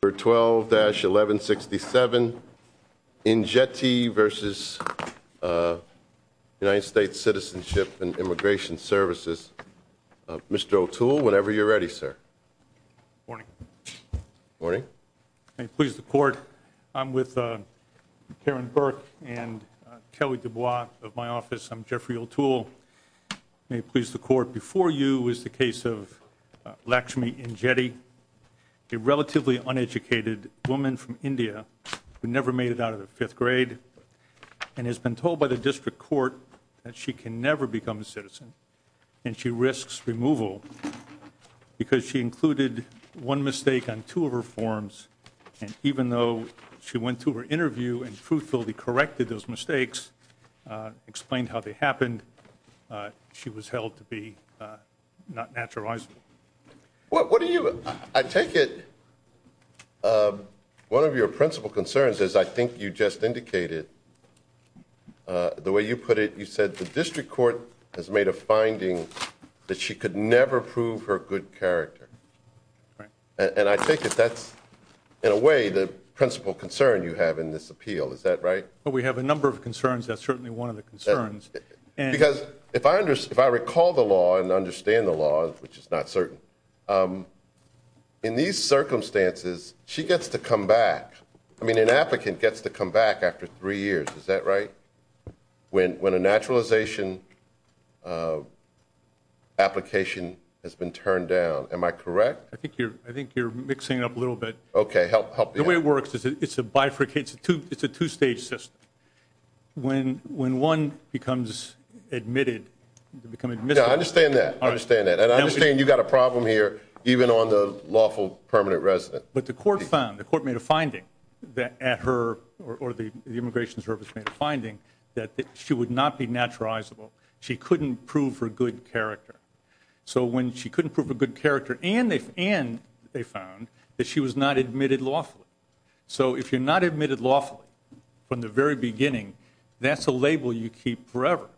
for 12-1167 Injeti v. United States Citizenship and Immigration Services. Mr. O'Toole, whenever you're ready, sir. Morning. Morning. May it please the Court, I'm with Karen Burke and Kelly Dubois of my office. I'm Jeffrey O'Toole. May it please the Court, before you is the case of Lakshmi Injeti, a relatively uneducated woman from India who never made it out of the fifth grade and has been told by the district court that she can never become a citizen and she risks removal because she included one mistake on two of her forms and even though she went to her interview and truthfully corrected those mistakes, explained how they happened, she was held to be not naturalizable. What do you, I take it, one of your principal concerns is I think you just indicated, the way you put it, you said the district court has made a finding that she could never prove her good character. Right. And I take it that's in a way the principal concern you have in this appeal, is that right? Well, we have a number of concerns, that's certainly one of the concerns. Because if I recall the law and understand the law, which is not certain, in these circumstances, she gets to come back, I mean an applicant gets to come back after three years, is that right? When a naturalization application has been turned down, am I correct? I think you're mixing it up a little bit. Okay, help me out. The way it works is it's a bifurcated, it's a two-stage system. When one becomes admitted, become admissible. Yeah, I understand that, I understand that. And I understand you've got a problem here even on the lawful permanent resident. But the court found, the court made a finding that at her, or the immigration service made a finding that she would not be naturalizable. She couldn't prove her good character. So she was not admitted lawfully. So if you're not admitted lawfully from the very beginning, that's a label you keep forever.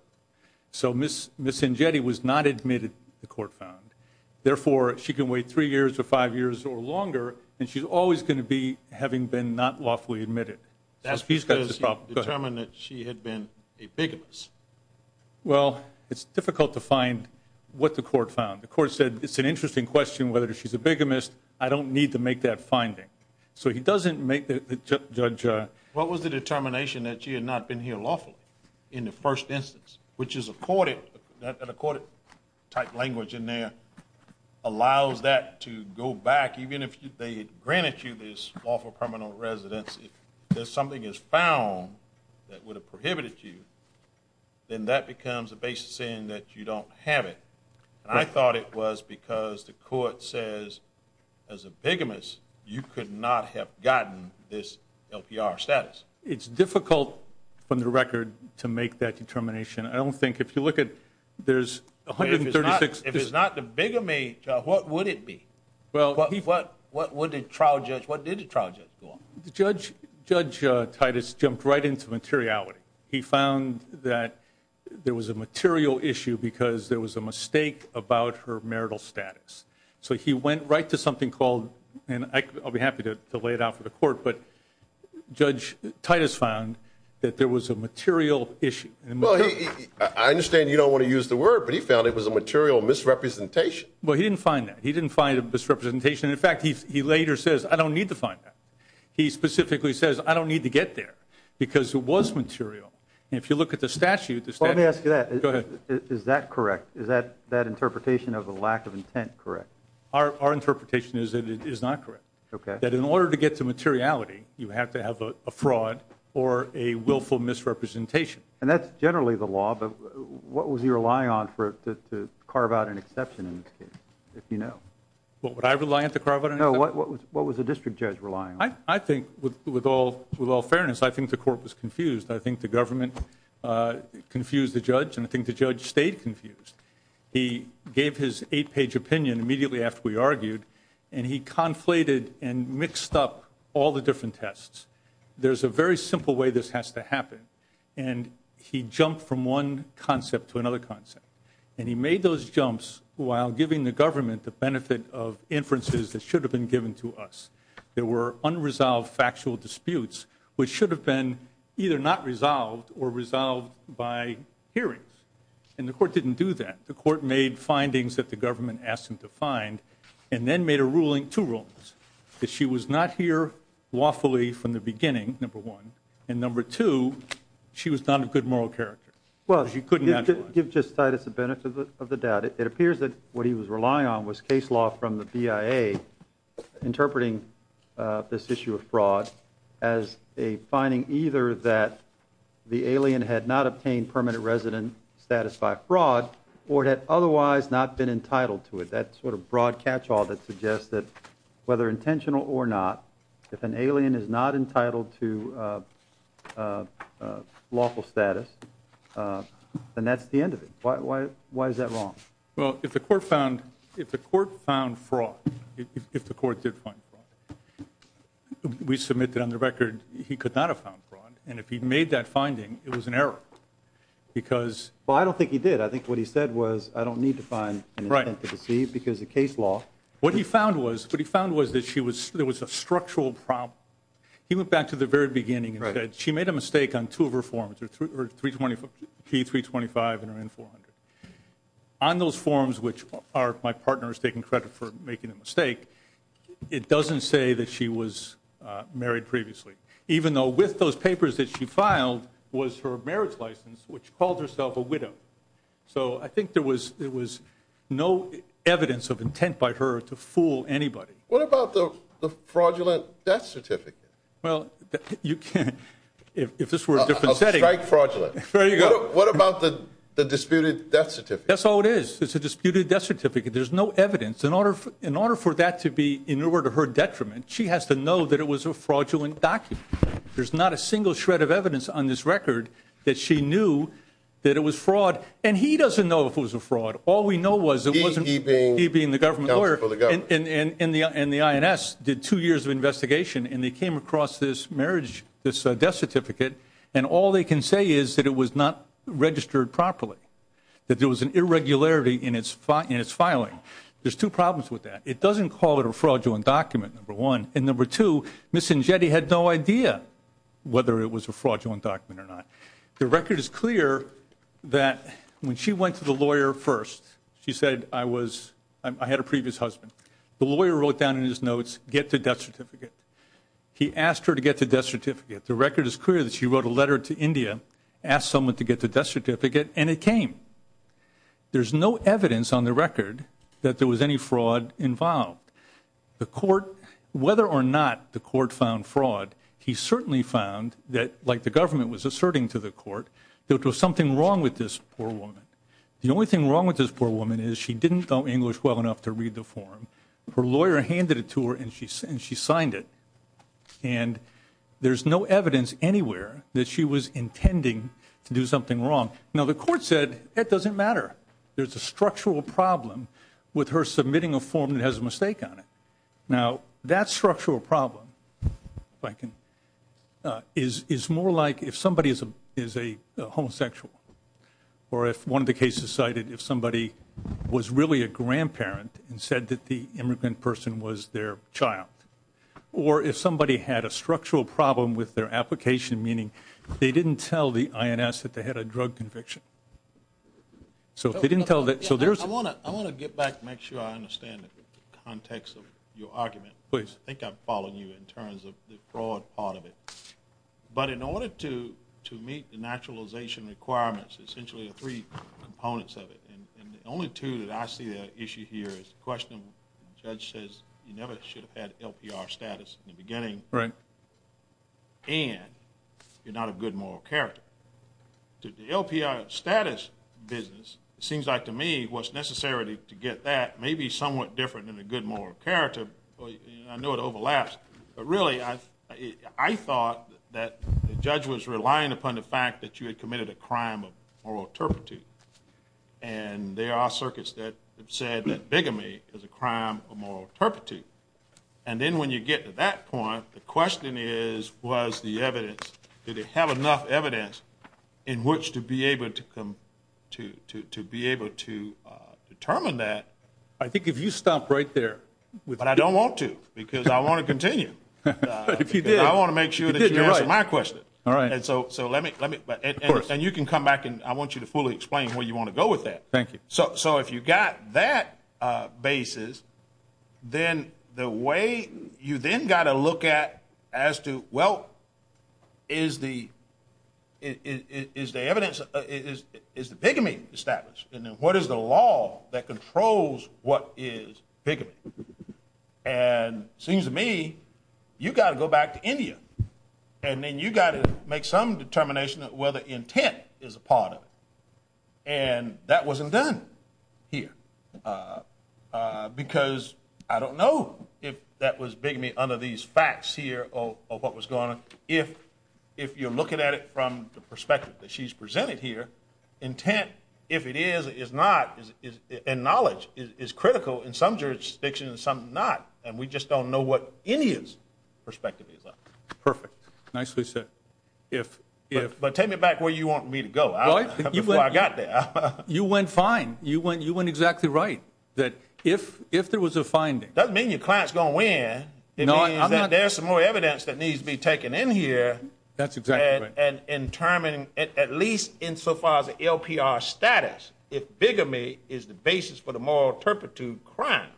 So Ms. Njeti was not admitted, the court found. Therefore, she can wait three years or five years or longer, and she's always going to be having been not lawfully admitted. That's because you determined that she had been a bigamist. Well it's difficult to find what the court found. The court said it's an interesting question whether she's a bigamist. I don't need to make that finding. So he doesn't make the judge... What was the determination that she had not been here lawfully in the first instance? Which is accorded, that accorded type language in there allows that to go back even if they granted you this lawful permanent residency. If something is found that would have prohibited you, then that becomes a basis saying that you don't have it. And I thought it was because the court says as a bigamist, you could not have gotten this LPR status. It's difficult from the record to make that determination. I don't think if you look at there's 136... If it's not the bigamist, what would it be? What did the trial judge go on? Judge Titus jumped right into materiality. He found that there was a material issue because there was a mistake about her marital status. So he went right to something called, and I'll be happy to lay it out for the court, but Judge Titus found that there was a material issue. I understand you don't want to use the word, but he found it was a material misrepresentation. Well he didn't find that. He didn't find a misrepresentation. In fact, he later says, I don't need to find that. He specifically says, I don't need to get there because it was material. And if you look at the statute... Let me ask you that. Is that correct? Is that interpretation of the lack of intent correct? Our interpretation is that it is not correct. Okay. That in order to get to materiality, you have to have a fraud or a willful misrepresentation. And that's generally the law, but what was he relying on to carve out an exception in this case, if you know? What would I rely on to carve out an exception? No, what was the district judge relying on? I think, with all fairness, I think the court was confused. I think the government confused the judge, and I think the judge stayed confused. He gave his eight-page opinion immediately after we argued, and he conflated and mixed up all the different tests. There's a very simple way this has to happen, and he jumped from one concept to another concept. And he made those jumps while giving the government the opportunity. There were unresolved factual disputes, which should have been either not resolved or resolved by hearings. And the court didn't do that. The court made findings that the government asked him to find, and then made a ruling, two rulings, that she was not here lawfully from the beginning, number one. And number two, she was not a good moral character. She couldn't naturalize. Well, give just Titus a benefit of the doubt. It appears that what he was relying on was case law from the BIA interpreting this issue of fraud as a finding either that the alien had not obtained permanent resident status by fraud or had otherwise not been entitled to it. That sort of broad catch-all that suggests that, whether intentional or not, if an alien is not entitled to lawful status, then that's the end of it. Why is that wrong? Well, if the court found fraud, if the court did find fraud, we submit that, on the record, he could not have found fraud. And if he'd made that finding, it was an error because... Well, I don't think he did. I think what he said was, I don't need to find an intent to deceive because of case law. What he found was that there was a structural problem. He went back to the very beginning and said, she made a mistake. On those forms, which my partner is taking credit for making a mistake, it doesn't say that she was married previously, even though with those papers that she filed was her marriage license, which called herself a widow. So I think there was no evidence of intent by her to fool anybody. What about the fraudulent death certificate? Well, you can't... If this were a different setting... A strike fraudulent. There you go. What about the disputed death certificate? That's all it is. It's a disputed death certificate. There's no evidence. In order for that to be in order to her detriment, she has to know that it was a fraudulent document. There's not a single shred of evidence on this record that she knew that it was fraud. And he doesn't know if it was a fraud. All we know was it wasn't... He being the government lawyer... Counsel for the government. And the INS did two years of investigation, and they came across this marriage... This death certificate, and all they can say is that it was not registered properly. That there was an irregularity in its filing. There's two problems with that. It doesn't call it a fraudulent document, number one. And number two, Miss Ingetti had no idea whether it was a fraudulent document or not. The record is clear that when she went to the lawyer first, she said, I was... I had a previous husband. The lawyer wrote down in his death certificate. He asked her to get the death certificate. The record is clear that she wrote a letter to India, asked someone to get the death certificate, and it came. There's no evidence on the record that there was any fraud involved. The court, whether or not the court found fraud, he certainly found that, like the government was asserting to the court, that there was something wrong with this poor woman. The only thing wrong with this poor woman is she didn't know English well enough to read the form. Her lawyer handed it to her, and she signed it. And there's no evidence anywhere that she was intending to do something wrong. Now, the court said it doesn't matter. There's a structural problem with her submitting a form that has a mistake on it. Now, that structural problem, if I can, is more like if somebody is a homosexual, or if one of the cases cited if somebody was really a grandparent and said that the immigrant person was their child, or if somebody had a structural problem with their application, meaning they didn't tell the INS that they had a drug conviction. So if they didn't tell that... I want to get back and make sure I understand the context of your argument. I think I'm following you in terms of the fraud part of it. But in order to meet the naturalization requirements, essentially the three components of it, and the only two that I see that issue here is the question, the judge says, you never should have had LPR status in the beginning, and you're not a good moral character. The LPR status business, it seems like to me, what's necessary to get that may be somewhat different than a good moral character. I know it overlaps, but really I thought that the judge was relying upon the fact that you had committed a crime of moral turpitude. And there are circuits that have said that bigamy is a crime of moral turpitude. And then when you get to that point, the question is, was the evidence, did it have enough evidence in which to be able to determine that? I think if you stop right there. But I don't want to, because I want to continue. I want to make sure that you answer my question. And you can come back and I want you to fully explain where you want to go with that. Thank you. So if you got that basis, then the way you then got to look at as to, well, is the evidence, is the bigamy established? And then what is the law that controls what is bigamy? And it seems to me, you got to go back to India. And then you got to make some determination that whether intent is a part of it. And that wasn't done here. Because I don't know if that was bigamy under these facts here of what was going on. If you're looking at it from the perspective that she's presented here, intent, if it is, is not. And knowledge is critical in some jurisdictions, some not. And we just don't know what India's perspective is on it. Perfect. Nicely said. But take me back where you want me to go. Before I got there. You went fine. You went exactly right. That if there was a finding. Doesn't mean your client's going to win. It means that there's some more evidence that needs to be taken in here. That's exactly right. And determined, at least insofar as the LPR status, if bigamy is the basis for the moral turpitude crime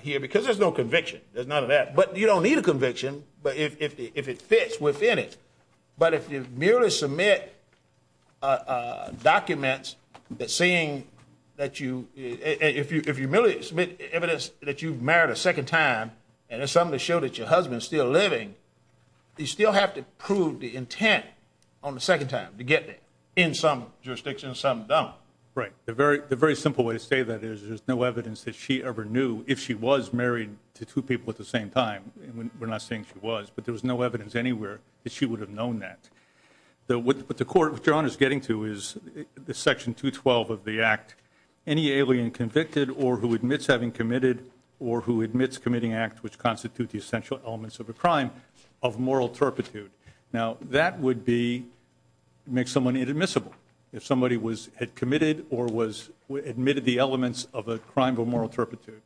here. Because there's no conviction. There's none of that. But you don't need a conviction. But if it fits within it. But if you merely submit documents that seeing that you if you merely submit evidence that you've married a second time and it's something to show that your husband's still living, you still have to prove the intent on the second time to get in some jurisdictions, some don't. Right. The very simple way to say that is there's no evidence that she ever knew if she was married to two people at the same time. We're not saying she was, but there was no evidence anywhere that she would have known that the what the court John is getting to is the Section 212 of the Act. Any alien convicted or who admits having committed or who admits committing acts which constitute the essential elements of a crime of moral turpitude. Now, that would be make someone inadmissible if somebody was had committed or was admitted the elements of a crime of moral turpitude.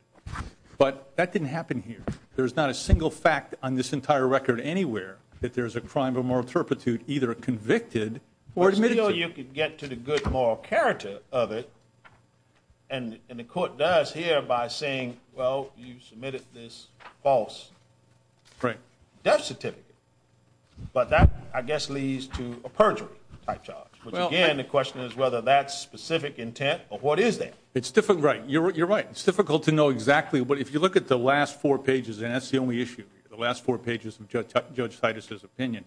But that didn't happen here. There's not a single fact on this entire record anywhere that there's a crime of moral turpitude, either convicted or admitted. You could get to the good moral character of it. And the court does here by saying, well, you submitted this false death certificate. But that, I guess, leads to a perjury charge. Well, again, the question is whether that's specific intent or what is that? It's different. Right. You're right. It's difficult to know and that's the only issue. The last four pages of Judge Titus's opinion,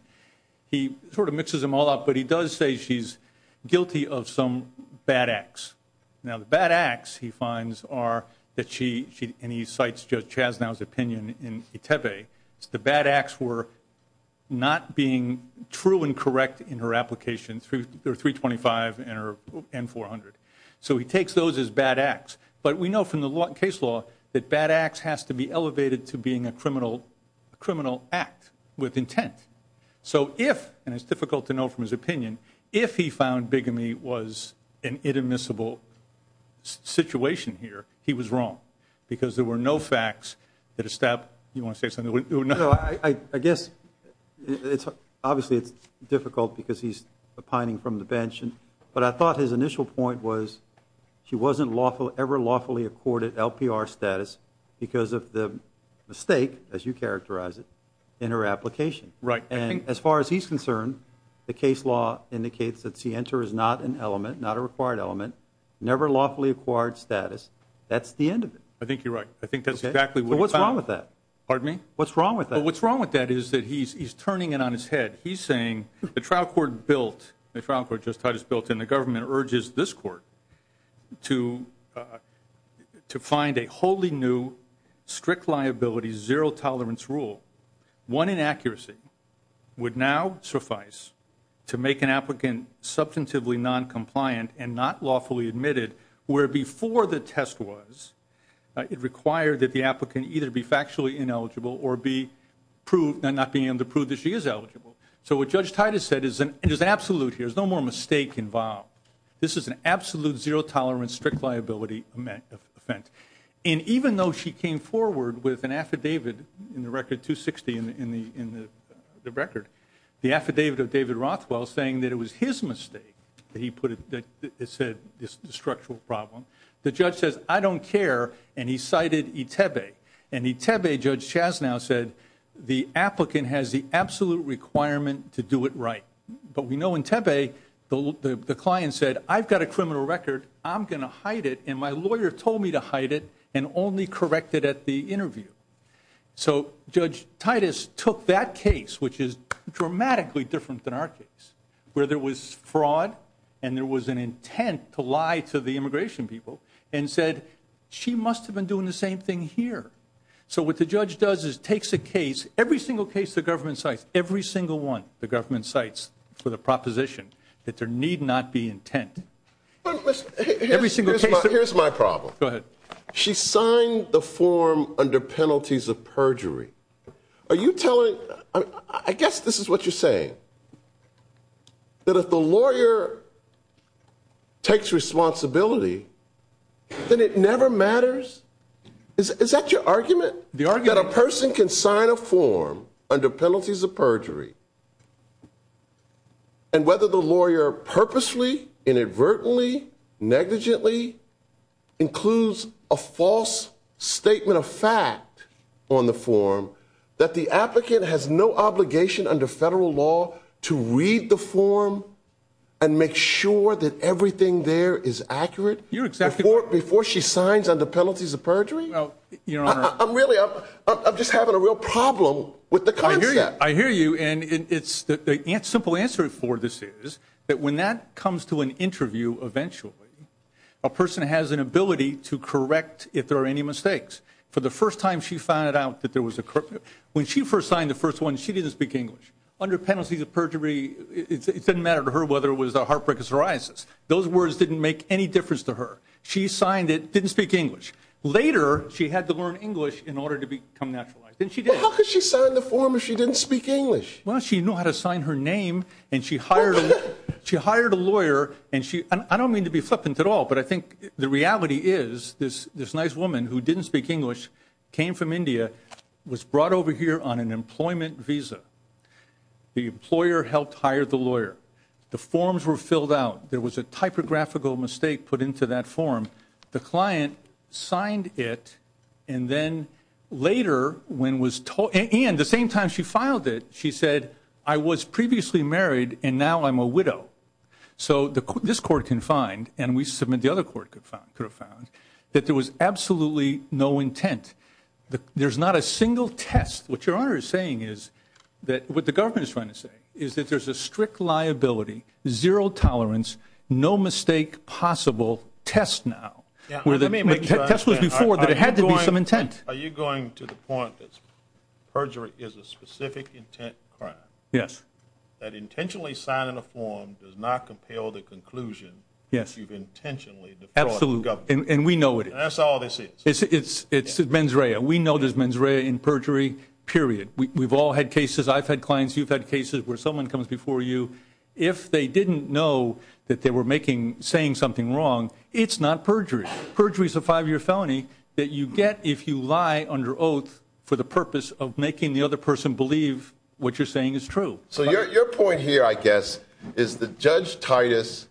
he sort of mixes them all up. But he does say she's guilty of some bad acts. Now, the bad acts, he finds, are that she and he cites Judge Chasnow's opinion in Itepe. It's the bad acts were not being true and correct in her application through 325 and 400. So he takes those as bad acts. He says in this law that bad acts has to be elevated to being a criminal act with intent. So if, and it's difficult to know from his opinion, if he found bigamy was an inadmissible situation here, he was wrong. Because there were no facts that established, you want to say something? No, I guess, obviously, it's difficult because he's pining from the bench. But I thought his initial point was she wasn't ever lawfully accorded LPR status because of the mistake, as you characterize it, in her application. Right. And as far as he's concerned, the case law indicates that she enters not an element, not a required element, never lawfully acquired status. That's the end of it. I think you're right. I think that's exactly what. What's wrong with that? Pardon me? What's wrong with that? What's wrong with that is that he's turning it on his head. He's saying the trial court built, the trial court just has built, and the government urges this court to find a wholly new, strict liability, zero tolerance rule. One inaccuracy would now suffice to make an applicant substantively noncompliant and not lawfully admitted, where before the test was, it required that the applicant either be factually ineligible or be to prove that she is eligible. So what Judge Titus said is absolute here. There's no more mistake involved. This is an absolute zero tolerance, strict liability event. And even though she came forward with an affidavit in the record, 260 in the record, the affidavit of David Rothwell saying that it was his mistake that he put it, that it said it's a structural problem, the judge says, I don't care. And he cited ITEBE. And ITEBE, Judge Chasnow said, the applicant has the absolute requirement to do it right. But we know in ITEBE, the client said, I've got a criminal record. I'm going to hide it. And my lawyer told me to hide it and only correct it at the interview. So Judge Titus took that case, which is dramatically different than our case, where there was fraud and there was an intent to lie to the immigration people and said, she must have been doing the same thing here. So what the judge does is takes every single case the government cites, every single one the government cites for the proposition that there need not be intent. Here's my problem. Go ahead. She signed the form under penalties of perjury. Are you telling, I guess this is what you're saying, that if the lawyer takes responsibility, then it never matters? Is that your argument? That a person can sign a form under penalties of perjury and whether the lawyer purposely, inadvertently, negligently includes a false statement of fact on the form that the applicant has no obligation under federal law to read the form? Before she signs under penalties of perjury? I'm really, I'm just having a real problem with the concept. I hear you. And the simple answer for this is that when that comes to an interview, eventually, a person has an ability to correct if there are any mistakes. For the first time, she found out that there was a, when she first signed the first one, she didn't speak English. Under penalties of perjury, it didn't matter to her whether it was a heartbreak or psoriasis. Those words didn't make any difference to her. She signed it, didn't speak English. Later, she had to learn English in order to become naturalized. And she did. How could she sign the form if she didn't speak English? Well, she knew how to sign her name and she hired, she hired a lawyer and she, I don't mean to be flippant at all, but I think the reality is this, this nice woman who didn't speak English, came from India, was brought over on an employment visa. The employer helped hire the lawyer. The forms were filled out. There was a typographical mistake put into that form. The client signed it and then later when was, and the same time she filed it, she said, I was previously married and now I'm a widow. So this court can find, and we submit the other court could have found, that there was absolutely no intent. There's not a single test. What your honor is saying is that, what the government is trying to say is that there's a strict liability, zero tolerance, no mistake possible test now. Are you going to the point that perjury is a specific intent crime? Yes. That intentionally signing a form does not compel the conclusion that you've intentionally defrauded the government. And we know it. That's all they see. It's, it's, it's mens rea. We know there's mens rea in perjury, period. We've all had cases, I've had clients, you've had cases where someone comes before you, if they didn't know that they were making, saying something wrong, it's not perjury. Perjury is a five-year felony that you get if you lie under oath for the purpose of making the other person believe what you're saying is true. So your, your point here, I guess, is that Judge Titus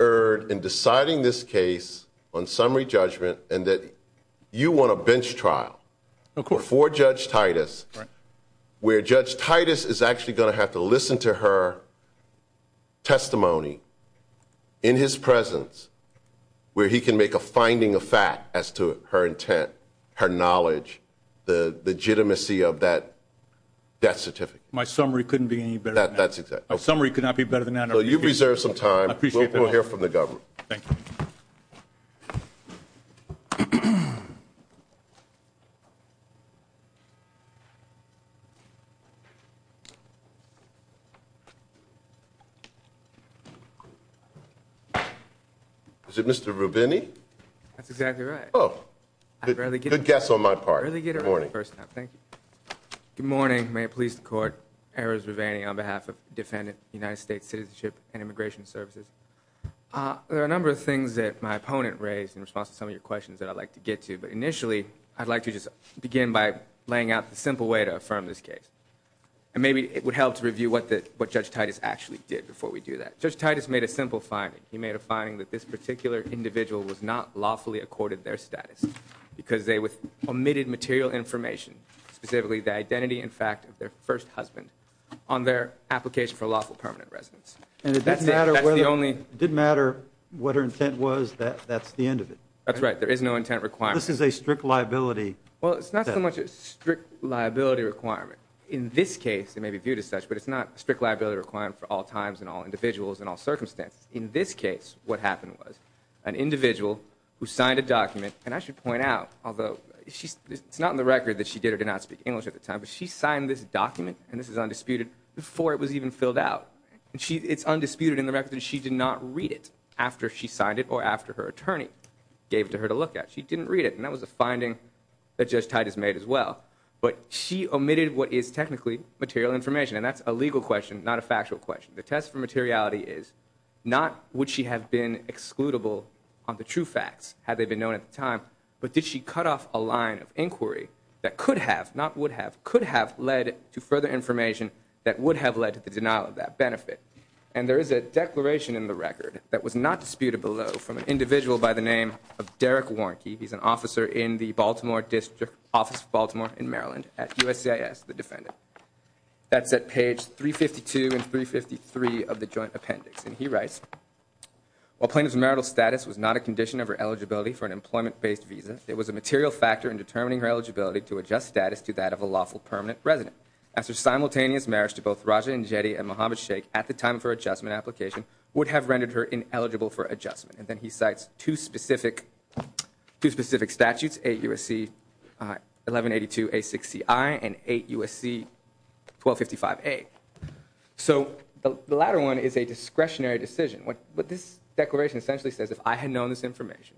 erred in deciding this case on summary judgment and that you want a bench trial for Judge Titus, where Judge Titus is actually going to have to listen to her testimony in his presence, where he can make a finding of fact as to her intent, her knowledge, the legitimacy of that death certificate. My summary couldn't be any better. That's my summary. Thank you. Is it Mr. Rubini? That's exactly right. Oh, good guess on my part. Good morning. First time. Thank you. Good morning. May it please the court, Errors Ravani on behalf of there are a number of things that my opponent raised in response to some of your questions that I'd like to get to, but initially I'd like to just begin by laying out the simple way to affirm this case. And maybe it would help to review what the, what Judge Titus actually did before we do that. Judge Titus made a simple finding. He made a finding that this particular individual was not lawfully accorded their status because they omitted material information, specifically the identity and fact of their first husband on their application for lawful permanent residence. And it didn't matter what her intent was, that that's the end of it. That's right. There is no intent requirement. This is a strict liability. Well, it's not so much a strict liability requirement. In this case, it may be viewed as such, but it's not a strict liability requirement for all times and all individuals and all circumstances. In this case, what happened was an individual who signed a document and I should point out, although it's not in the record that she did or did not speak English at the time, but she signed this document and this is filled out. And she, it's undisputed in the record that she did not read it after she signed it or after her attorney gave it to her to look at. She didn't read it. And that was a finding that Judge Titus made as well. But she omitted what is technically material information. And that's a legal question, not a factual question. The test for materiality is not would she have been excludable on the true facts had they been known at the time, but did she cut off a line of inquiry that could have, not would have, could have led to further information that would have led to the denial of that benefit. And there is a declaration in the record that was not disputed below from an individual by the name of Derek Warnke. He's an officer in the Baltimore District Office of Baltimore in Maryland at USCIS, the defendant. That's at page 352 and 353 of the joint appendix. And he writes, while plaintiff's marital status was not a condition of her eligibility for an employment-based visa, it was a material factor in determining her eligibility to adjust status to that of a lawful permanent resident. As her simultaneous marriage to both Raja Njeti and Muhammad Shaikh at the time of her adjustment application would have rendered her ineligible for adjustment. And then he cites two specific, two specific statutes, 8 USC 1182A6CI and 8 USC 1255A. So the latter one is a discretionary decision. What this declaration essentially says, if I had known this information,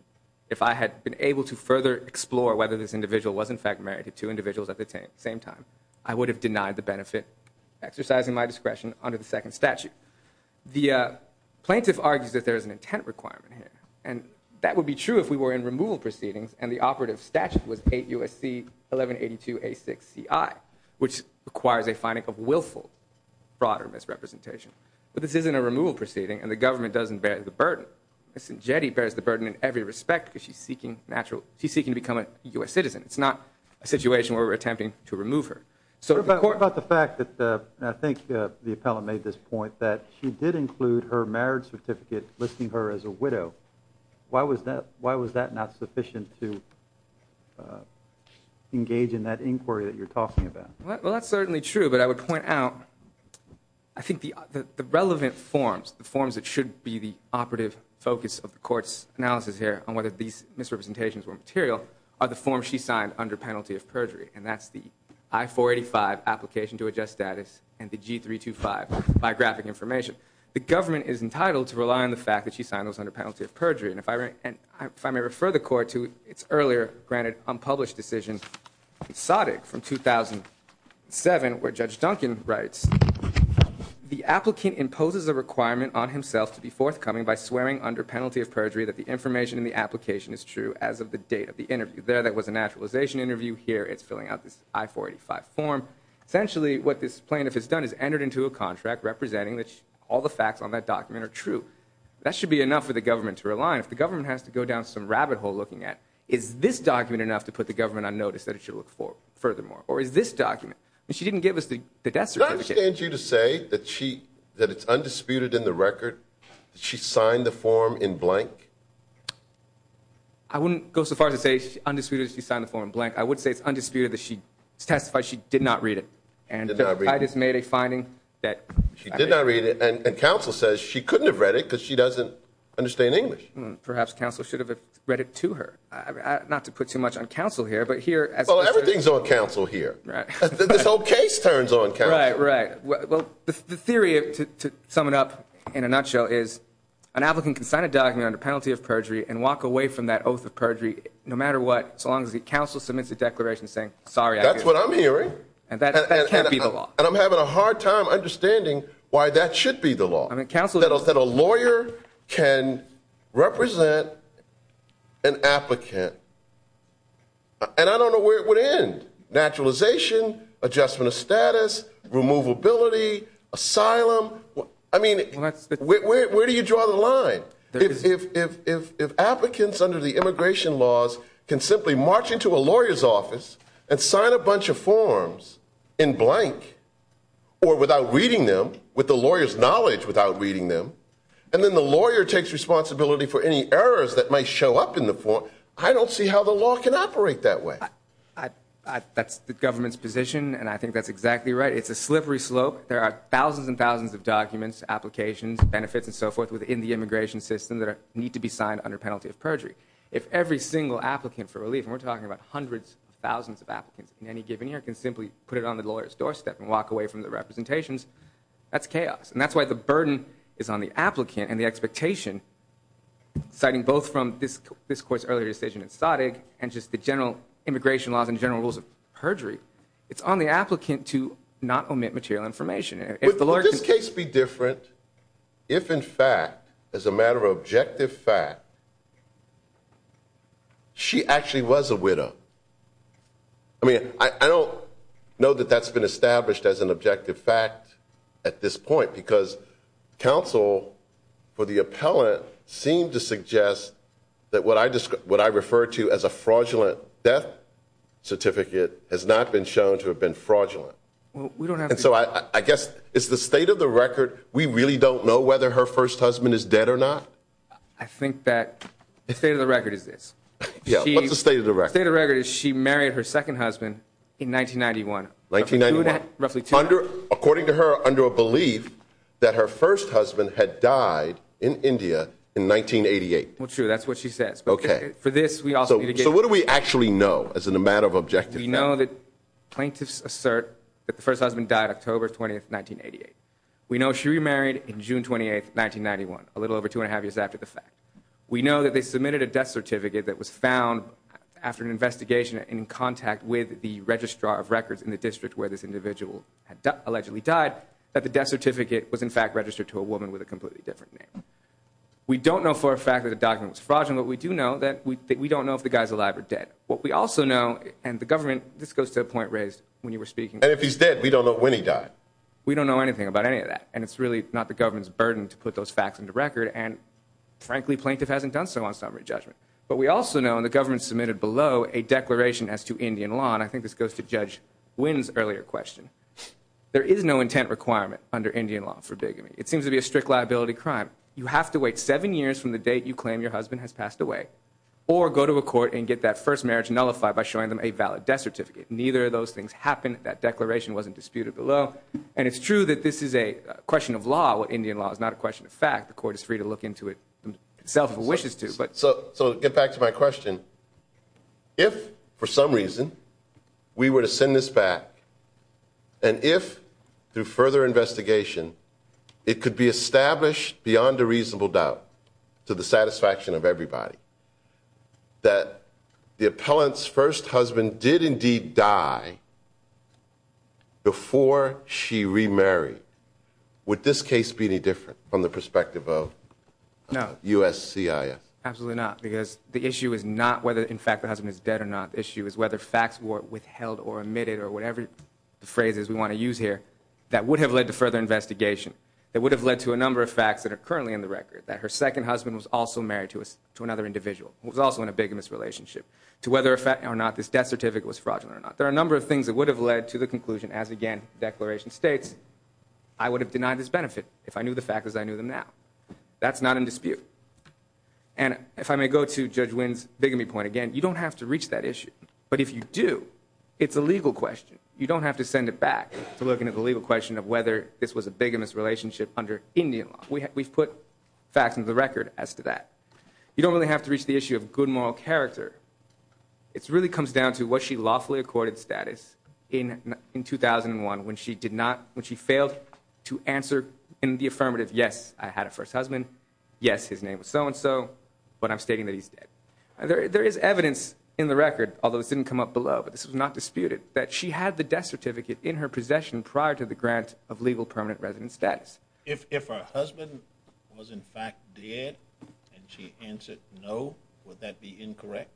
if I had been able to further explore whether this individual was in fact married to two individuals at the same time, I would have benefited exercising my discretion under the second statute. The plaintiff argues that there is an intent requirement here. And that would be true if we were in removal proceedings and the operative statute was 8 USC 1182A6CI, which requires a finding of willful broader misrepresentation. But this isn't a removal proceeding and the government doesn't bear the burden. Ms. Njeti bears the burden in every respect because she's seeking natural, she's seeking to become a U.S. I think the appellant made this point that she did include her marriage certificate listing her as a widow. Why was that, why was that not sufficient to engage in that inquiry that you're talking about? Well, that's certainly true, but I would point out, I think the relevant forms, the forms that should be the operative focus of the court's analysis here on whether these misrepresentations were material are the forms she signed under penalty of perjury. And that's the and the G325 biographic information. The government is entitled to rely on the fact that she signed those under penalty of perjury. And if I may refer the court to its earlier granted unpublished decision, SOTIC from 2007, where Judge Duncan writes, the applicant imposes a requirement on himself to be forthcoming by swearing under penalty of perjury that the information in the application is true as of the date of the interview. There that was a naturalization interview. Here it's filling out this I-485 form. Essentially what this plaintiff has done is entered into a contract representing that all the facts on that document are true. That should be enough for the government to rely on. If the government has to go down some rabbit hole looking at, is this document enough to put the government on notice that it should look for furthermore? Or is this document? She didn't give us the death certificate. I understand you to say that she, that it's undisputed in the record that she signed the form in blank. I wouldn't go so far as to say undisputed if she signed the form in blank. I would say it's undisputed that she testified she did not read it. And I just made a finding that. She did not read it. And counsel says she couldn't have read it because she doesn't understand English. Perhaps counsel should have read it to her. Not to put too much on counsel here, but here. Well, everything's on counsel here. This whole case turns on counsel. Right, right. Well, the theory to sum it up in a nutshell is an applicant can sign a document under penalty of perjury and walk away from that oath of perjury no matter what, so long as the counsel submits a declaration saying, sorry, that's what I'm hearing. And that can't be the law. And I'm having a hard time understanding why that should be the law. I mean, counsel said a lawyer can represent an applicant. And I don't know where it would end. Naturalization, adjustment of status, removability, asylum. I mean, where do you draw the line? If applicants under the immigration laws can simply march into a lawyer's office and sign a bunch of forms in blank or without reading them with the lawyer's knowledge without reading them, and then the lawyer takes responsibility for any errors that might show up in the form, I don't see how the law can operate that way. I, that's the government's position. And I think that's exactly right. It's a slippery slope. There are thousands and thousands of documents, applications, benefits, and so forth within the immigration system that need to be signed under penalty of perjury. If every single applicant for relief, and we're talking about hundreds of thousands of applicants in any given year, can simply put it on the lawyer's doorstep and walk away from the representations, that's chaos. And that's why the burden is on the applicant and the expectation, citing both from this court's earlier decision in Stoddard and just the general immigration laws and general rules of perjury, it's on the applicant to not omit material information. But would this case be different if, in fact, as a matter of objective fact, she actually was a widow? I mean, I don't know that that's been established as an objective fact at this point, because counsel for the appellant seemed to suggest that what I refer to as a fraudulent death certificate has not been shown to have been fraudulent. And so I guess it's the state of the record, we really don't know whether her first husband is dead or not? I think that the state of the record is this. Yeah, what's the state of the record? The state of the record is she married her second husband in 1991. 1991? According to her, under a belief that her first husband had died in India in 1988. Well, true, that's what she says. So what do we actually know as a matter of objective fact? We know that plaintiffs assert that the first husband died October 20th, 1988. We know she remarried on June 28th, 1991, a little over two and a half years after the fact. We know that they submitted a death certificate that was found after an investigation in contact with the registrar of records in the district where this individual allegedly died, that the death certificate was in fact registered to a woman with a completely different name. We don't know for a fact that the document was fraudulent, but we do know that we don't know if the guy's alive or dead. What we also know, and the government, this goes to the point raised when you were speaking. And if he's dead, we don't know when he died. We don't know anything about any of that. And it's really not the government's burden to put those facts into record. And frankly, plaintiff hasn't done so on summary judgment. But we also know, and the government submitted below, a declaration as to Indian law. And I think this goes to Judge Wynn's earlier question. There is no intent requirement under Indian law for bigamy. It seems to be a strict liability crime. You have to wait seven years from the date you claim your husband has passed away, or go to a court and get that first marriage nullified by showing them a valid death certificate. Neither of those things happened. That declaration wasn't disputed below. And it's true that this is a question of law. Indian law is not a question of fact. The court is free to look into it itself if it wishes to. So to get back to my question, if, for some reason, we were to send this back, and if, through further investigation, it could be established beyond a reasonable doubt to the satisfaction of everybody that the appellant's first husband did indeed die before she remarried, would this case be any different from the perspective of USCIS? Absolutely not. Because the issue is not whether, in fact, the husband is dead or not. The issue is whether facts were withheld or omitted, or whatever the phrase is we want to use here, that would have led to further investigation. That would have led to a number of facts that are currently in the record. That her second husband was also married to another individual, who was also in a bigamous relationship. To whether or not this death certificate was fraudulent or not. There are a number of things that would have led to the conclusion, as, again, the declaration states, I would have denied this benefit if I knew the facts as I knew them now. That's not in dispute. And if I may go to Judge Wynn's bigamy point again, you don't have to reach that issue. But if you do, it's a legal question. You don't have to send it back to looking at the legal question of whether this was a bigamous relationship under Indian law. We've put facts into the record as to that. You don't really have to reach the issue of good moral character. It really comes down to what she lawfully accorded status in 2001 when she failed to answer in the affirmative, yes, I had a first husband. Yes, his name was so-and-so, but I'm stating that he's dead. There is evidence in the record, although it didn't come up below, but this was not disputed, that she had the death certificate in her possession prior to the grant of legal permanent resident status. If her husband was, in fact, dead and she answered no, would that be incorrect?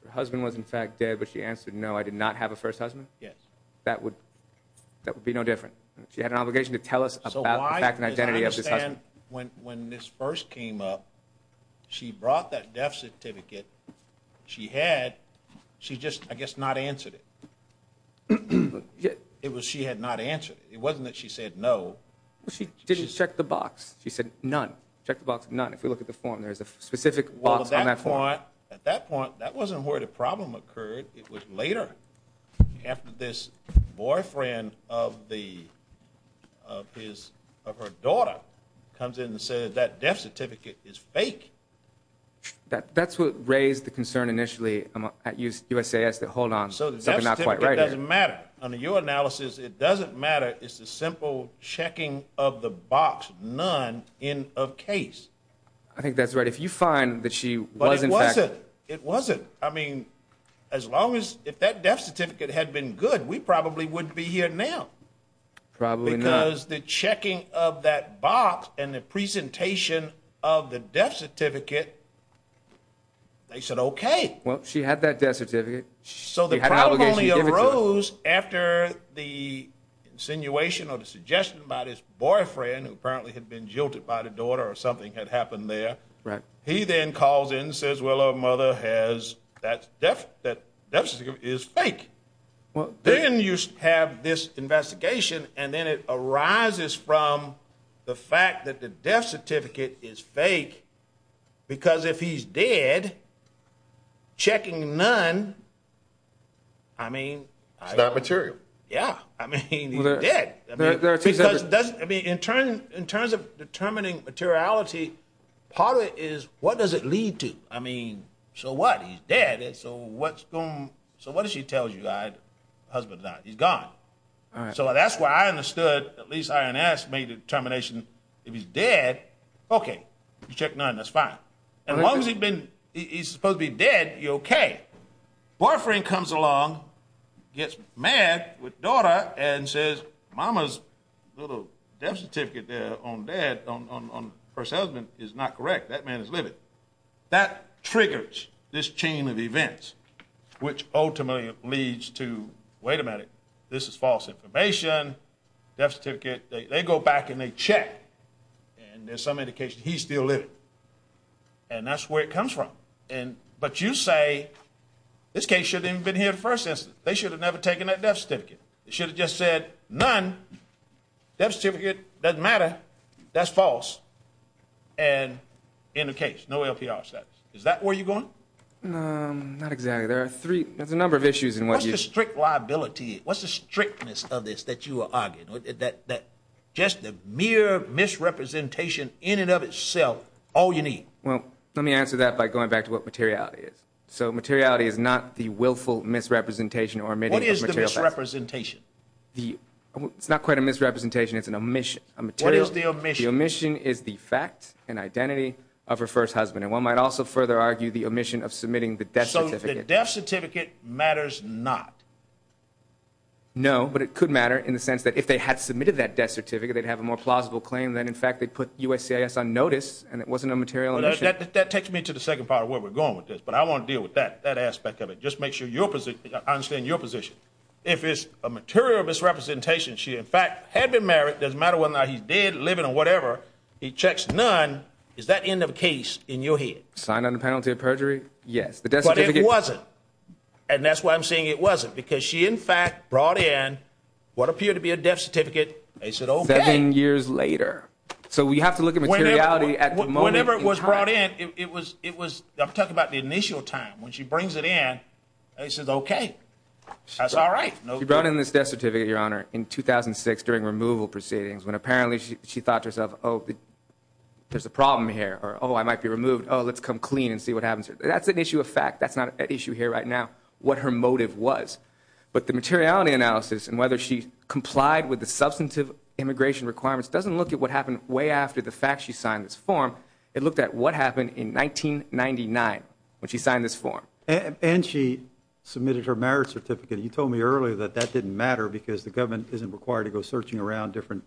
If her husband was, in fact, dead, but she answered no, I did not have a first husband? Yes. That would be no different. She had an obligation to tell us about the fact and identity of this husband. When this first came up, she brought that death certificate. She had, she just, I guess, not answered it. She had not answered it. It wasn't that she said no. She didn't check the box. She said none. Check the box, none. If we look at the form, there's a specific box on that form. At that point, that wasn't where the problem occurred. It was later, after this boyfriend of her daughter comes in and says that death certificate is fake. That's what raised the concern initially at USAS that, hold on, something's not quite right here. So the death certificate doesn't matter. Under your analysis, it doesn't matter. It's a simple checking of the box, none, in a case. I think that's right. If you find that she was, in fact- It wasn't. I mean, as long as, if that death certificate had been good, we probably wouldn't be here now. Probably not. Because the checking of that box and the presentation of the death certificate, they said, okay. Well, she had that death certificate. So the problem only arose after the insinuation or the suggestion about his boyfriend, who apparently had been jilted by the daughter or something had happened there. He then calls in and says, well, her mother has that death certificate is fake. Then you have this investigation, and then it arises from the fact that the death certificate is fake because if he's dead, checking none, I mean- It's not material. Yeah. I mean, he's dead. There are two separate- I mean, in terms of determining materiality, part of it is, what does it lead to? I mean, so what? He's dead. So what does she tell you, the husband and I? He's gone. All right. So that's where I understood, at least INS made a determination. If he's dead, okay, you check none. That's fine. And as long as he's supposed to be dead, you're okay. Boyfriend comes along, gets mad with daughter and says, mama's little death certificate there on dad, on her husband is not correct. That man is living. That triggers this chain of events, which ultimately leads to, wait a minute, this is false information, death certificate. They go back and they check, and there's some indication he's still living. And that's where it comes from. But you say this case shouldn't have been here the first instance. They should have never taken that death certificate. They should have just said none, death certificate, doesn't matter, that's false. And in the case, no LPR status. Is that where you're going? Not exactly. There are three, there's a number of issues in what you- What's the strict liability? What's the strictness of this that you are arguing? Just the mere misrepresentation in and of itself, all you need. Well, let me answer that by going back to what materiality is. So materiality is not the willful misrepresentation or omitting- What is the misrepresentation? It's not quite a misrepresentation, it's an omission, a material- What is the omission? The omission is the fact and identity of her first husband. And one might also further argue the omission of submitting the death certificate. So the death certificate matters not? No, but it could matter in the sense that if they had submitted that death certificate, they'd have a more plausible claim that in fact they put USCIS on notice and it wasn't a material omission. That takes me to the second part of where we're going with this. But I want to deal with that, that aspect of it. Just make sure I understand your position. If it's a material misrepresentation, she in fact had been married, doesn't matter whether or not he's dead, living, or whatever, he checks none, is that end of the case in your head? Signed under penalty of perjury, yes. But it wasn't. And that's why I'm saying it wasn't, because she in fact brought in what appeared to be a death certificate, they said okay. Seven years later. So we have to look at materiality at the moment. Whenever it was brought in, it was, I'm talking about the initial time. When she brings it in, she says okay. That's all right. She brought in this death certificate, your honor, in 2006 during removal proceedings, when apparently she thought to herself, oh, there's a problem here. Or oh, I might be removed. Oh, let's come clean and see what happens. That's an issue of fact. That's not an issue here right now, what her motive was. But the materiality analysis and whether she complied with the substantive immigration requirements doesn't look at what happened way after the fact she signed this form. It looked at what happened in 1999 when she signed this form. And she submitted her marriage certificate. You told me earlier that that didn't matter because the government isn't required to go searching around different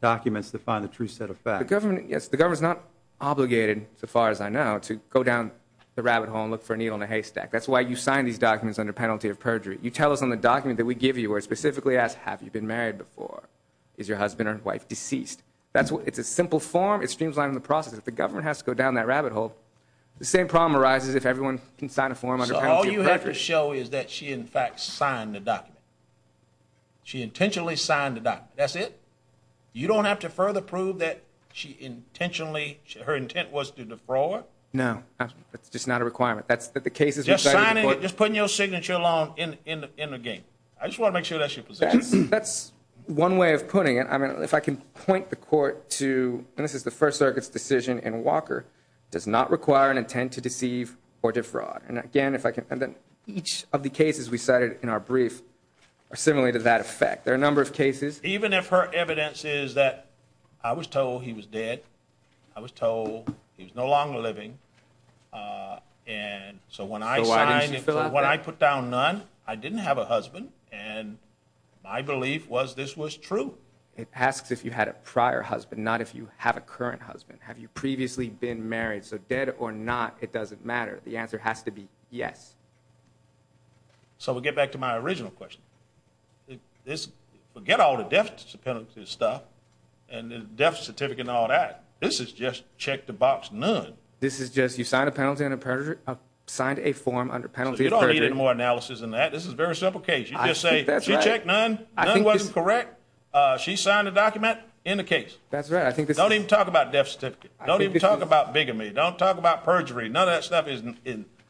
documents to find the true set of facts. The government, yes, the government's not obligated, so far as I know, to go down the rabbit hole and look for a needle in a haystack. That's why you signed these documents under penalty of perjury. You tell us on the document that we give you where it specifically asks, have you been married before? Is your husband or wife deceased? It's a simple form. It streams right in the process. If the government has to go down that rabbit hole, the same problem arises if everyone can sign a form under penalty of perjury. So all you have to show is that she, in fact, signed the document. She intentionally signed the document. That's it? You don't have to further prove that she intentionally, her intent was to defraud? No. That's just not a requirement. That's that the case is recited in court. Just putting your signature along in the game. I just want to make sure that's your position. That's one way of putting it. I mean, if I can point the court to, and this is the First Circuit's decision in Walker, does not require an intent to deceive or defraud. And again, if I can, and then each of the cases we cited in our brief are similar to that effect. There are a number of cases. Even if her evidence is that I was told he was dead, I was told he was no longer living. And so when I put down none, I didn't have a husband. And my belief was this was true. It asks if you had a prior husband, not if you have a current husband. Have you previously been married? So dead or not, it doesn't matter. The answer has to be yes. So we'll get back to my original question. This, forget all the death penalty stuff and the death certificate and all that. This is just check the box, none. This is just, you signed a penalty on a perjury, signed a form under penalty. You don't need any more analysis than that. This is a very simple case. She checked none. None wasn't correct. She signed a document in the case. That's right. I think this- Don't even talk about death certificate. Don't even talk about bigamy. Don't talk about perjury. None of that stuff is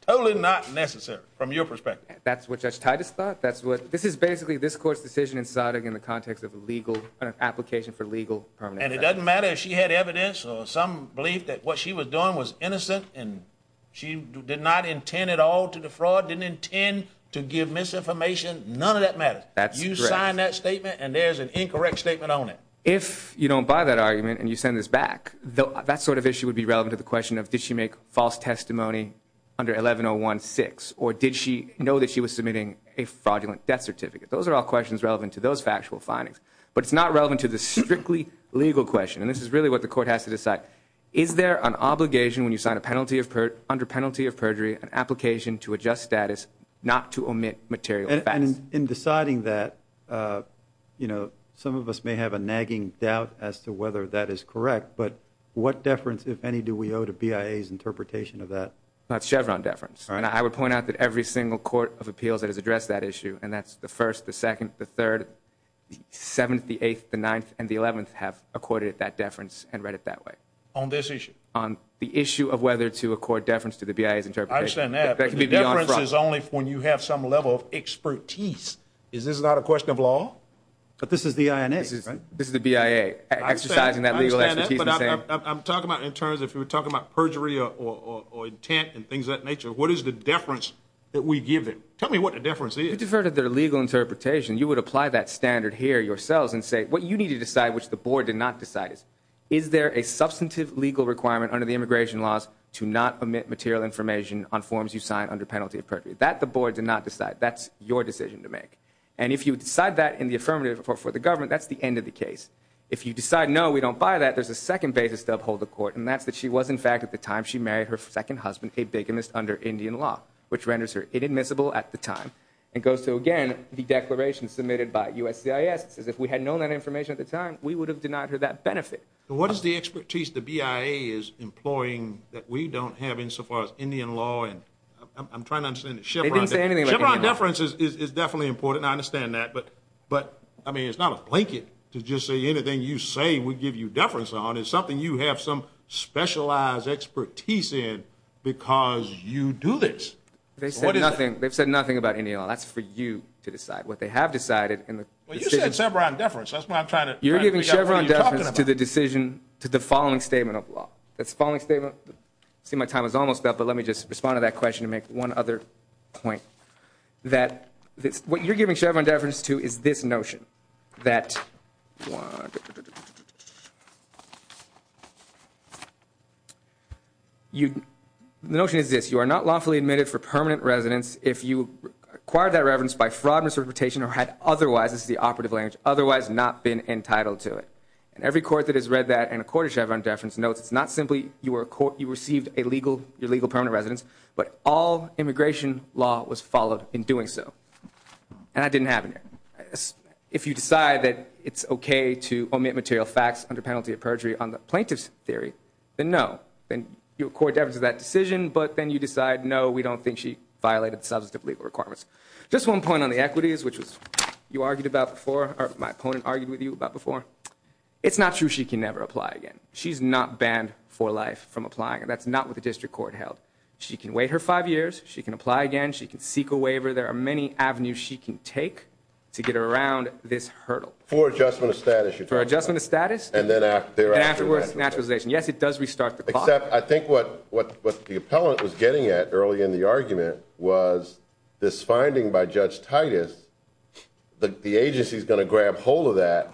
totally not necessary from your perspective. That's what Judge Titus thought. That's what, this is basically this court's decision in citing in the context of a legal application for legal permanent- And it doesn't matter if she had evidence or some belief that what she was doing was innocent and she did not intend at all to defraud, didn't intend to give misinformation. None of that matters. That's correct. You sign that statement and there's an incorrect statement on it. If you don't buy that argument and you send this back, that sort of issue would be relevant to the question of, did she make false testimony under 11-01-6 or did she know that she was submitting a fraudulent death certificate? Those are all questions relevant to those factual findings, but it's not relevant to the strictly legal question. And this is really what the court has to decide. Is there an obligation when you sign a penalty of perjury, under penalty of perjury, an application to adjust status not to omit material facts? In deciding that, some of us may have a nagging doubt as to whether that is correct, but what deference, if any, do we owe to BIA's interpretation of that? That's Chevron deference. I would point out that every single court of appeals that has addressed that issue, and that's the first, the second, the third, the seventh, the eighth, the ninth, and the eleventh have accorded that deference and read it that way. On this issue? On the issue of whether to accord deference to the BIA's interpretation. I understand that. Deference is only when you have some level of expertise. Is this not a question of law? But this is the INA, right? This is the BIA exercising that legal expertise. I'm talking about in terms, if you're talking about perjury or intent and things of that nature, what is the deference that we give them? Tell me what the deference is. You defer to their legal interpretation. You would apply that standard here yourselves and say, what you need to decide, which the board did not decide, is there a substantive legal requirement under the immigration laws to not omit material information on forms you sign under penalty of perjury? That the board did not decide. That's your decision to make. And if you decide that in the affirmative for the government, that's the end of the case. If you decide, no, we don't buy that, there's a second basis to uphold the court, and that's that she was, in fact, at the time she married her second husband, a bigamist under Indian law, which renders her inadmissible at the time. It goes to, again, the declaration submitted by USCIS, says if we had known that information at the time, we would have denied her that benefit. What is the expertise the BIA is employing that we don't have insofar as Indian law? And I'm trying to understand the Chevron deference is definitely important. I understand that, but I mean, it's not a blanket to just say anything you say would give you deference on. It's something you have some specialized expertise in because you do this. They've said nothing about Indian law. That's for you to decide. What they have decided in the decision. Well, you said Chevron deference. That's what I'm trying to figure out. Chevron deference to the decision to the following statement of law. That's the following statement. I see my time is almost up, but let me just respond to that question and make one other point, that what you're giving Chevron deference to is this notion, that the notion is this. You are not lawfully admitted for permanent residence if you acquired that reverence by fraud, misrepresentation, or had otherwise, this is the operative language, otherwise not been entitled to it. And every court that has read that and a court of Chevron deference notes, it's not simply you were a court, you received a legal, your legal permanent residence, but all immigration law was followed in doing so. And that didn't happen here. If you decide that it's okay to omit material facts under penalty of perjury on the plaintiff's theory, then no. Then your court deference to that decision, but then you decide, no, we don't think she violated the substantive legal requirements. Just one point on the equities, which you argued about before, or my opponent argued with you about before. It's not true she can never apply again. She's not banned for life from applying. And that's not what the district court held. She can wait her five years. She can apply again. She can seek a waiver. There are many avenues she can take to get around this hurdle. For adjustment of status. For adjustment of status. And then afterwards, naturalization. Yes, it does restart the clock. I think what the appellant was getting at early in the argument was this finding by Judge Titus that the agency's going to grab hold of that,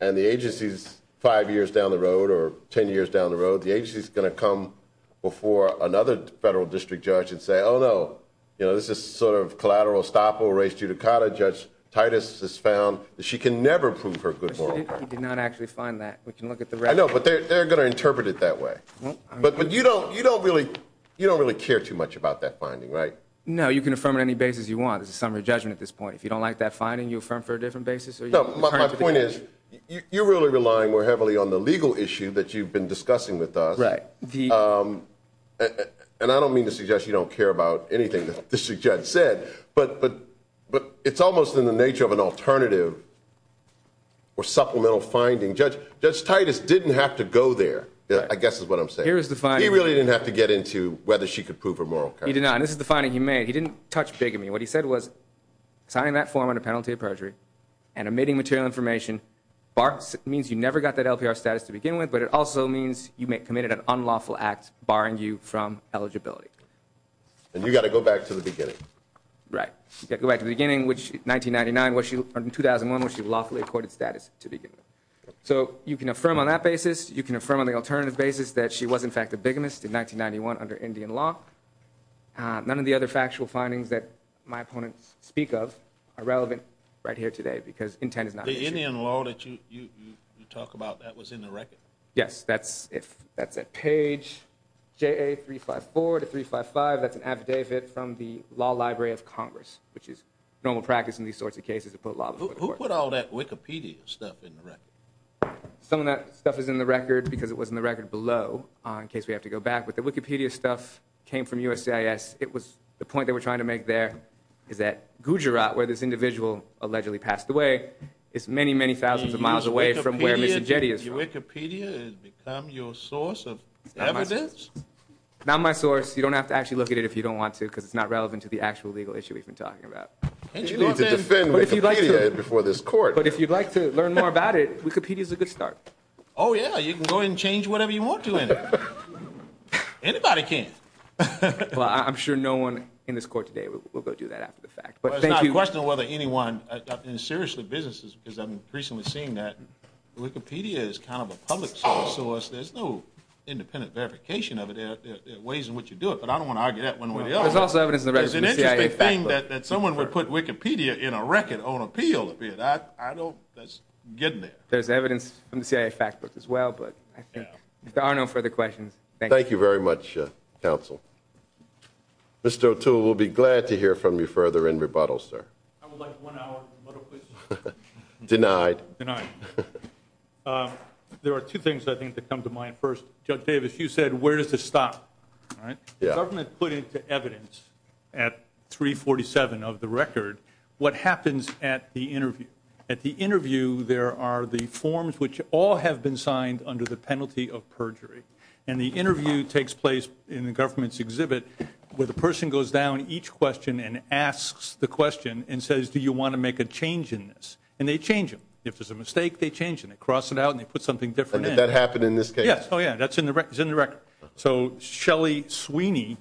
and the agency's five years down the road or 10 years down the road, the agency's going to come before another federal district judge and say, oh, no. This is sort of collateral estoppel, res judicata. Judge Titus has found that she can never prove her good moral. She did not actually find that. We can look at the record. I know, but they're going to interpret it that way. But you don't really care too much about that finding, right? No, you can affirm on any basis you want. It's a summary judgment at this point. If you don't like that finding, you affirm for a different basis. No, my point is, you're really relying more heavily on the legal issue that you've been discussing with us. Right. And I don't mean to suggest you don't care about anything that the district judge said, but it's almost in the nature of an alternative or supplemental finding. Judge Titus didn't have to go there. I guess is what I'm saying. Here is the finding. He really didn't have to get into whether she could prove her moral. He did not. And this is the finding he made. He didn't touch bigamy. What he said was signing that form on a penalty of perjury and omitting material information means you never got that LPR status to begin with, but it also means you committed an unlawful act barring you from eligibility. And you got to go back to the beginning. Right. You got to go back to the beginning, which 1999, 2001, when she lawfully accorded status to begin with. So you can affirm on that basis. You can affirm on the alternative basis that she was, in fact, a bigamist in 1991 under Indian law. None of the other factual findings that my opponents speak of are relevant right here today because intent is not the Indian law that you talk about. That was in the record. Yes, that's if that's a page. J.A. 354 to 355. That's an affidavit from the Law Library of Congress, which is normal practice in these sorts of cases to put a lot of who put all that Wikipedia stuff in the record. Some of that stuff is in the record because it was in the record below in case we have to go back. But the Wikipedia stuff came from USCIS. It was the point they were trying to make there is that Gujarat, where this individual allegedly passed away, is many, many thousands of miles away from where Mrs. Jetty is. Wikipedia has become your source of evidence? Not my source. You don't have to actually look at it if you don't want to because it's not relevant to the actual legal issue we've been talking about. You need to defend Wikipedia before this court. But if you'd like to learn more about it, Wikipedia is a good start. Oh, yeah. You can go and change whatever you want to in it. Anybody can. Well, I'm sure no one in this court today will go do that after the fact. But thank you. It's not a question of whether anyone, and seriously, businesses, because I'm increasingly seeing that Wikipedia is kind of a public source. There's no independent verification of it. There are ways in which you do it. But I don't want to argue that one way or the other. There's also evidence in the record. There's an interesting thing that someone would put Wikipedia in a record on appeal, and that's getting there. There's evidence from the CIA fact books as well. But I think if there are no further questions, thank you. Thank you very much, counsel. Mr. O'Toole, we'll be glad to hear from you further in rebuttal, sir. I would like one hour of rebuttal, please. Denied. Denied. There are two things, I think, that come to mind. First, Judge Davis, you said, where does this stop? The government put into evidence at 347 of the record what happens at the interview. There are the forms which all have been signed under the penalty of perjury. And the interview takes place in the government's exhibit where the person goes down each question and asks the question and says, do you want to make a change in this? And they change them. If there's a mistake, they change it. They cross it out, and they put something different in. Did that happen in this case? Yes. Oh, yeah. That's in the record. So Shelly Sweeney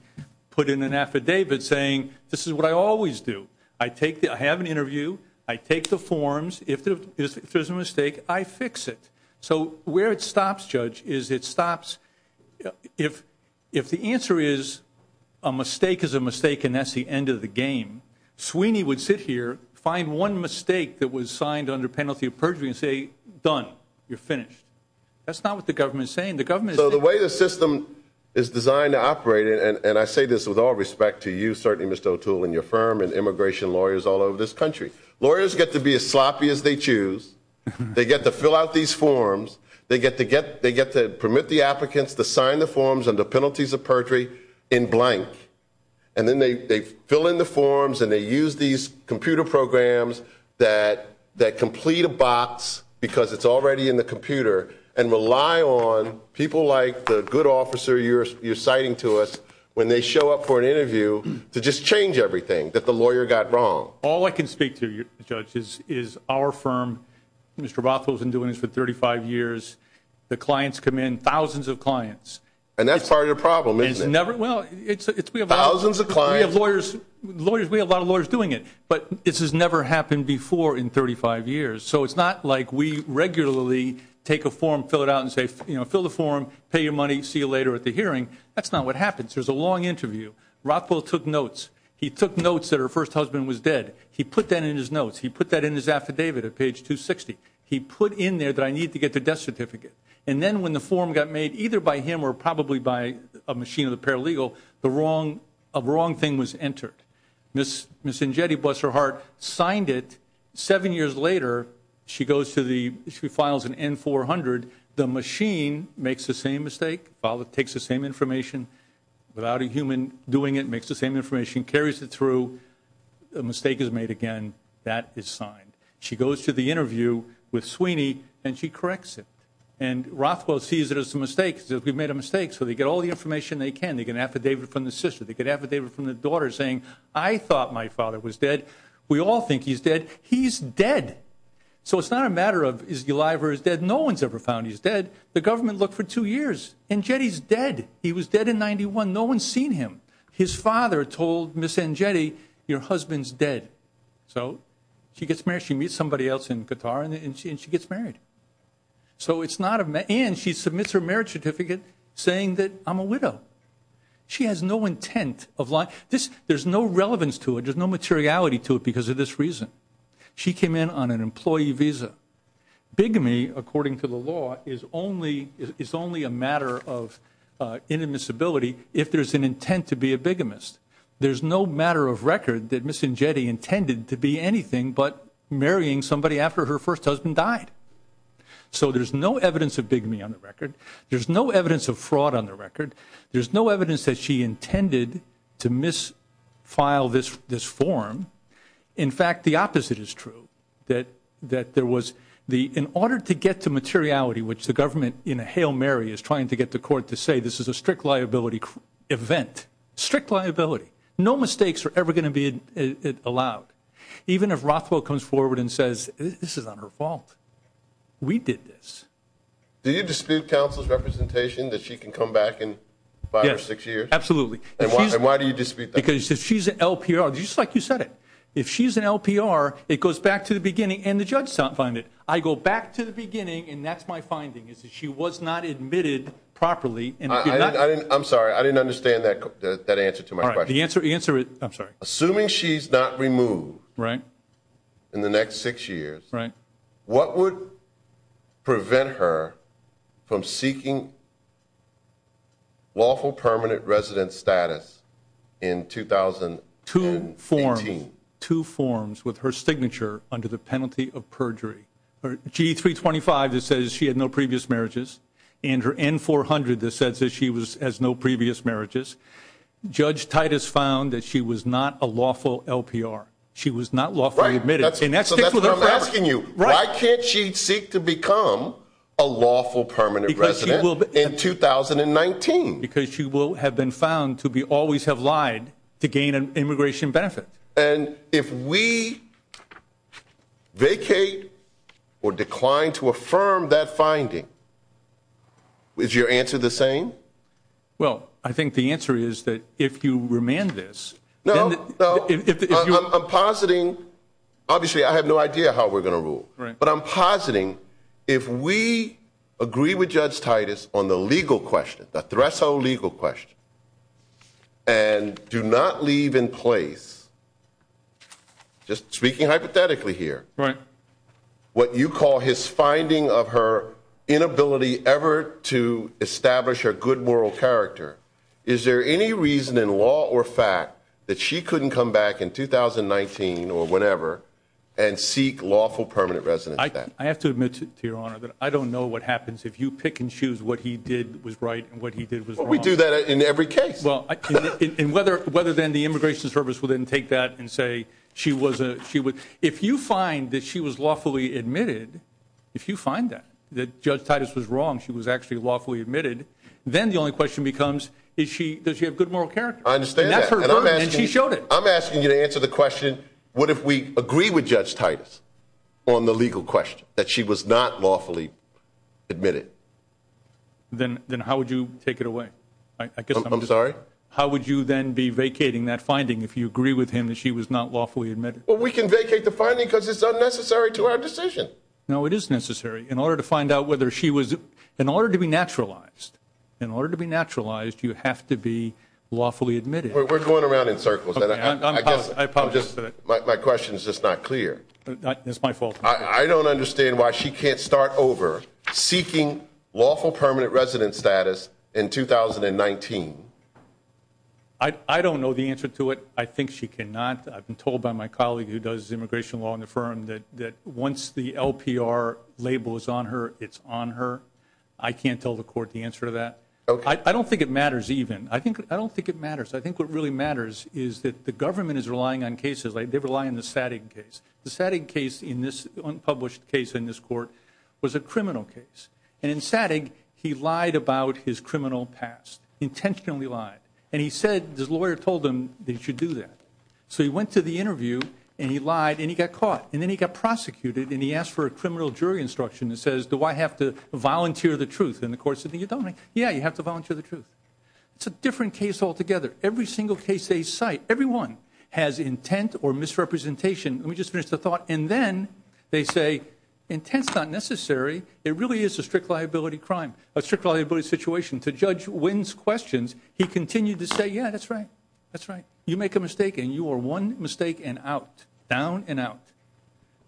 put in an affidavit saying, this is what I always do. I have an interview. I take the forms. If there's a mistake, I fix it. So where it stops, Judge, is it stops if the answer is a mistake is a mistake, and that's the end of the game, Sweeney would sit here, find one mistake that was signed under penalty of perjury, and say, done. You're finished. That's not what the government is saying. The government is saying. So the way the system is designed to operate, and I say this with all respect to you, certainly, and your firm, and immigration lawyers all over this country. Lawyers get to be as sloppy as they choose. They get to fill out these forms. They get to permit the applicants to sign the forms under penalties of perjury in blank. And then they fill in the forms, and they use these computer programs that complete a box, because it's already in the computer, and rely on people like the good officer you're that the lawyer got wrong. All I can speak to you, Judge, is our firm, Mr. Rothfeld's been doing this for 35 years. The clients come in, thousands of clients. And that's part of your problem, isn't it? Never. Well, it's we have a lot of lawyers doing it, but this has never happened before in 35 years. So it's not like we regularly take a form, fill it out, and say, fill the form, pay your money, see you later at the hearing. That's not what happens. There's a long interview. Rothfeld took notes. He took notes that her first husband was dead. He put that in his notes. He put that in his affidavit at page 260. He put in there that I need to get the death certificate. And then when the form got made, either by him or probably by a machine of the paralegal, the wrong, a wrong thing was entered. Ms. Njeti, bless her heart, signed it. Seven years later, she goes to the, she files an N-400. The machine makes the same mistake. Files it, takes the same information. Without a human doing it, makes the same information, carries it through. A mistake is made again. That is signed. She goes to the interview with Sweeney, and she corrects it. And Rothfeld sees it as a mistake. He says, we've made a mistake. So they get all the information they can. They get an affidavit from the sister. They get an affidavit from the daughter saying, I thought my father was dead. We all think he's dead. He's dead. So it's not a matter of is he alive or is dead. No one's ever found he's dead. The government looked for two years. Njeti's dead. He was dead in 91. No one's seen him. His father told Ms. Njeti, your husband's dead. So she gets married. She meets somebody else in Qatar, and she gets married. And she submits her marriage certificate saying that I'm a widow. She has no intent of lying. There's no relevance to it. There's no materiality to it because of this reason. She came in on an employee visa. Bigamy, according to the law, is only a matter of inadmissibility if there's an intent to be a bigamist. There's no matter of record that Ms. Njeti intended to be anything but marrying somebody after her first husband died. So there's no evidence of bigamy on the record. There's no evidence of fraud on the record. There's no evidence that she intended to misfile this form. In fact, the opposite is true. In order to get to materiality, which the government, in a hail Mary, is trying to get the court to say this is a strict liability event. Strict liability. No mistakes are ever going to be allowed. Even if Rothwell comes forward and says, this is not her fault. We did this. Do you dispute counsel's representation that she can come back in five or six years? Absolutely. And why do you dispute that? Because if she's an LPR, just like you said it. If she's an LPR, it goes back to the beginning, and the judge does not find it. I go back to the beginning, and that's my finding, is that she was not admitted properly. I'm sorry. I didn't understand that answer to my question. The answer is, I'm sorry. Assuming she's not removed in the next six years, what would prevent her from seeking lawful permanent resident status in 2018? Two forms. Two forms with her signature under the penalty of perjury. Her G325 that says she had no previous marriages, and her N400 that says she has no previous marriages. Judge Titus found that she was not a lawful LPR. She was not lawfully admitted. And that's what I'm asking you, why can't she seek to become a lawful permanent resident in 2019? Because she will have been found to always have lied to gain an immigration benefit. And if we vacate or decline to affirm that finding, is your answer the same? Well, I think the answer is that if you remand this. No, no, I'm positing. Obviously, I have no idea how we're going to rule. But I'm positing, if we agree with Judge Titus on the legal question, the threshold legal question, and do not leave in place, just speaking hypothetically here, what you call his finding of her inability ever to establish a good moral character. Is there any reason in law or fact that she couldn't come back in 2019 or whenever and lawful permanent resident? I have to admit to your honor that I don't know what happens if you pick and choose what he did was right and what he did was wrong. We do that in every case. Well, whether then the Immigration Service will then take that and say she was, if you find that she was lawfully admitted, if you find that, that Judge Titus was wrong, she was actually lawfully admitted, then the only question becomes, does she have good moral character? I understand that, and I'm asking you to answer the question, what if we agree with Judge Titus on the legal question that she was not lawfully admitted? Then then how would you take it away? I guess I'm sorry. How would you then be vacating that finding if you agree with him that she was not lawfully admitted? Well, we can vacate the finding because it's unnecessary to our decision. No, it is necessary in order to find out whether she was in order to be naturalized. In order to be naturalized, you have to be lawfully admitted. We're going around in circles. My question is just not clear. It's my fault. I don't understand why she can't start over seeking lawful permanent resident status in 2019. I don't know the answer to it. I think she cannot. I've been told by my colleague who does immigration law in the firm that once the LPR label is on her, it's on her. I can't tell the court the answer to that. I don't think it matters even. I think I don't think it matters. I think what really matters is that the government is relying on cases. They rely on the Sattig case. The Sattig case in this unpublished case in this court was a criminal case. And in Sattig, he lied about his criminal past, intentionally lied. And he said, his lawyer told him that he should do that. So he went to the interview, and he lied, and he got caught. And then he got prosecuted, and he asked for a criminal jury instruction that says, do I have to volunteer the truth? And the court said, you don't. Yeah, you have to volunteer the truth. It's a different case altogether. Every single case they cite, everyone has intent or misrepresentation. Let me just finish the thought. And then they say, intent's not necessary. It really is a strict liability crime, a strict liability situation. To Judge Wynn's questions, he continued to say, yeah, that's right. That's right. You make a mistake, and you are one mistake and out, down and out.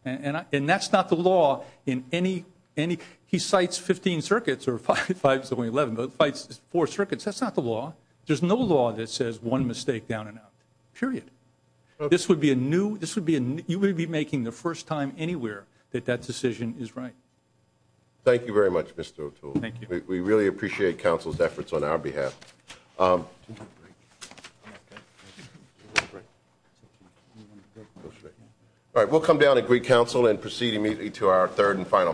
And that's not the law in any, any, he cites 15 circuits or five, five is only 11, but fights four circuits. That's not the law. There's no law that says one mistake down and out, period. This would be a new, this would be a, you would be making the first time anywhere that that decision is right. Thank you very much, Mr. O'Toole. Thank you. We really appreciate counsel's efforts on our behalf. All right, we'll come down and greet counsel and proceed immediately to our third and final case.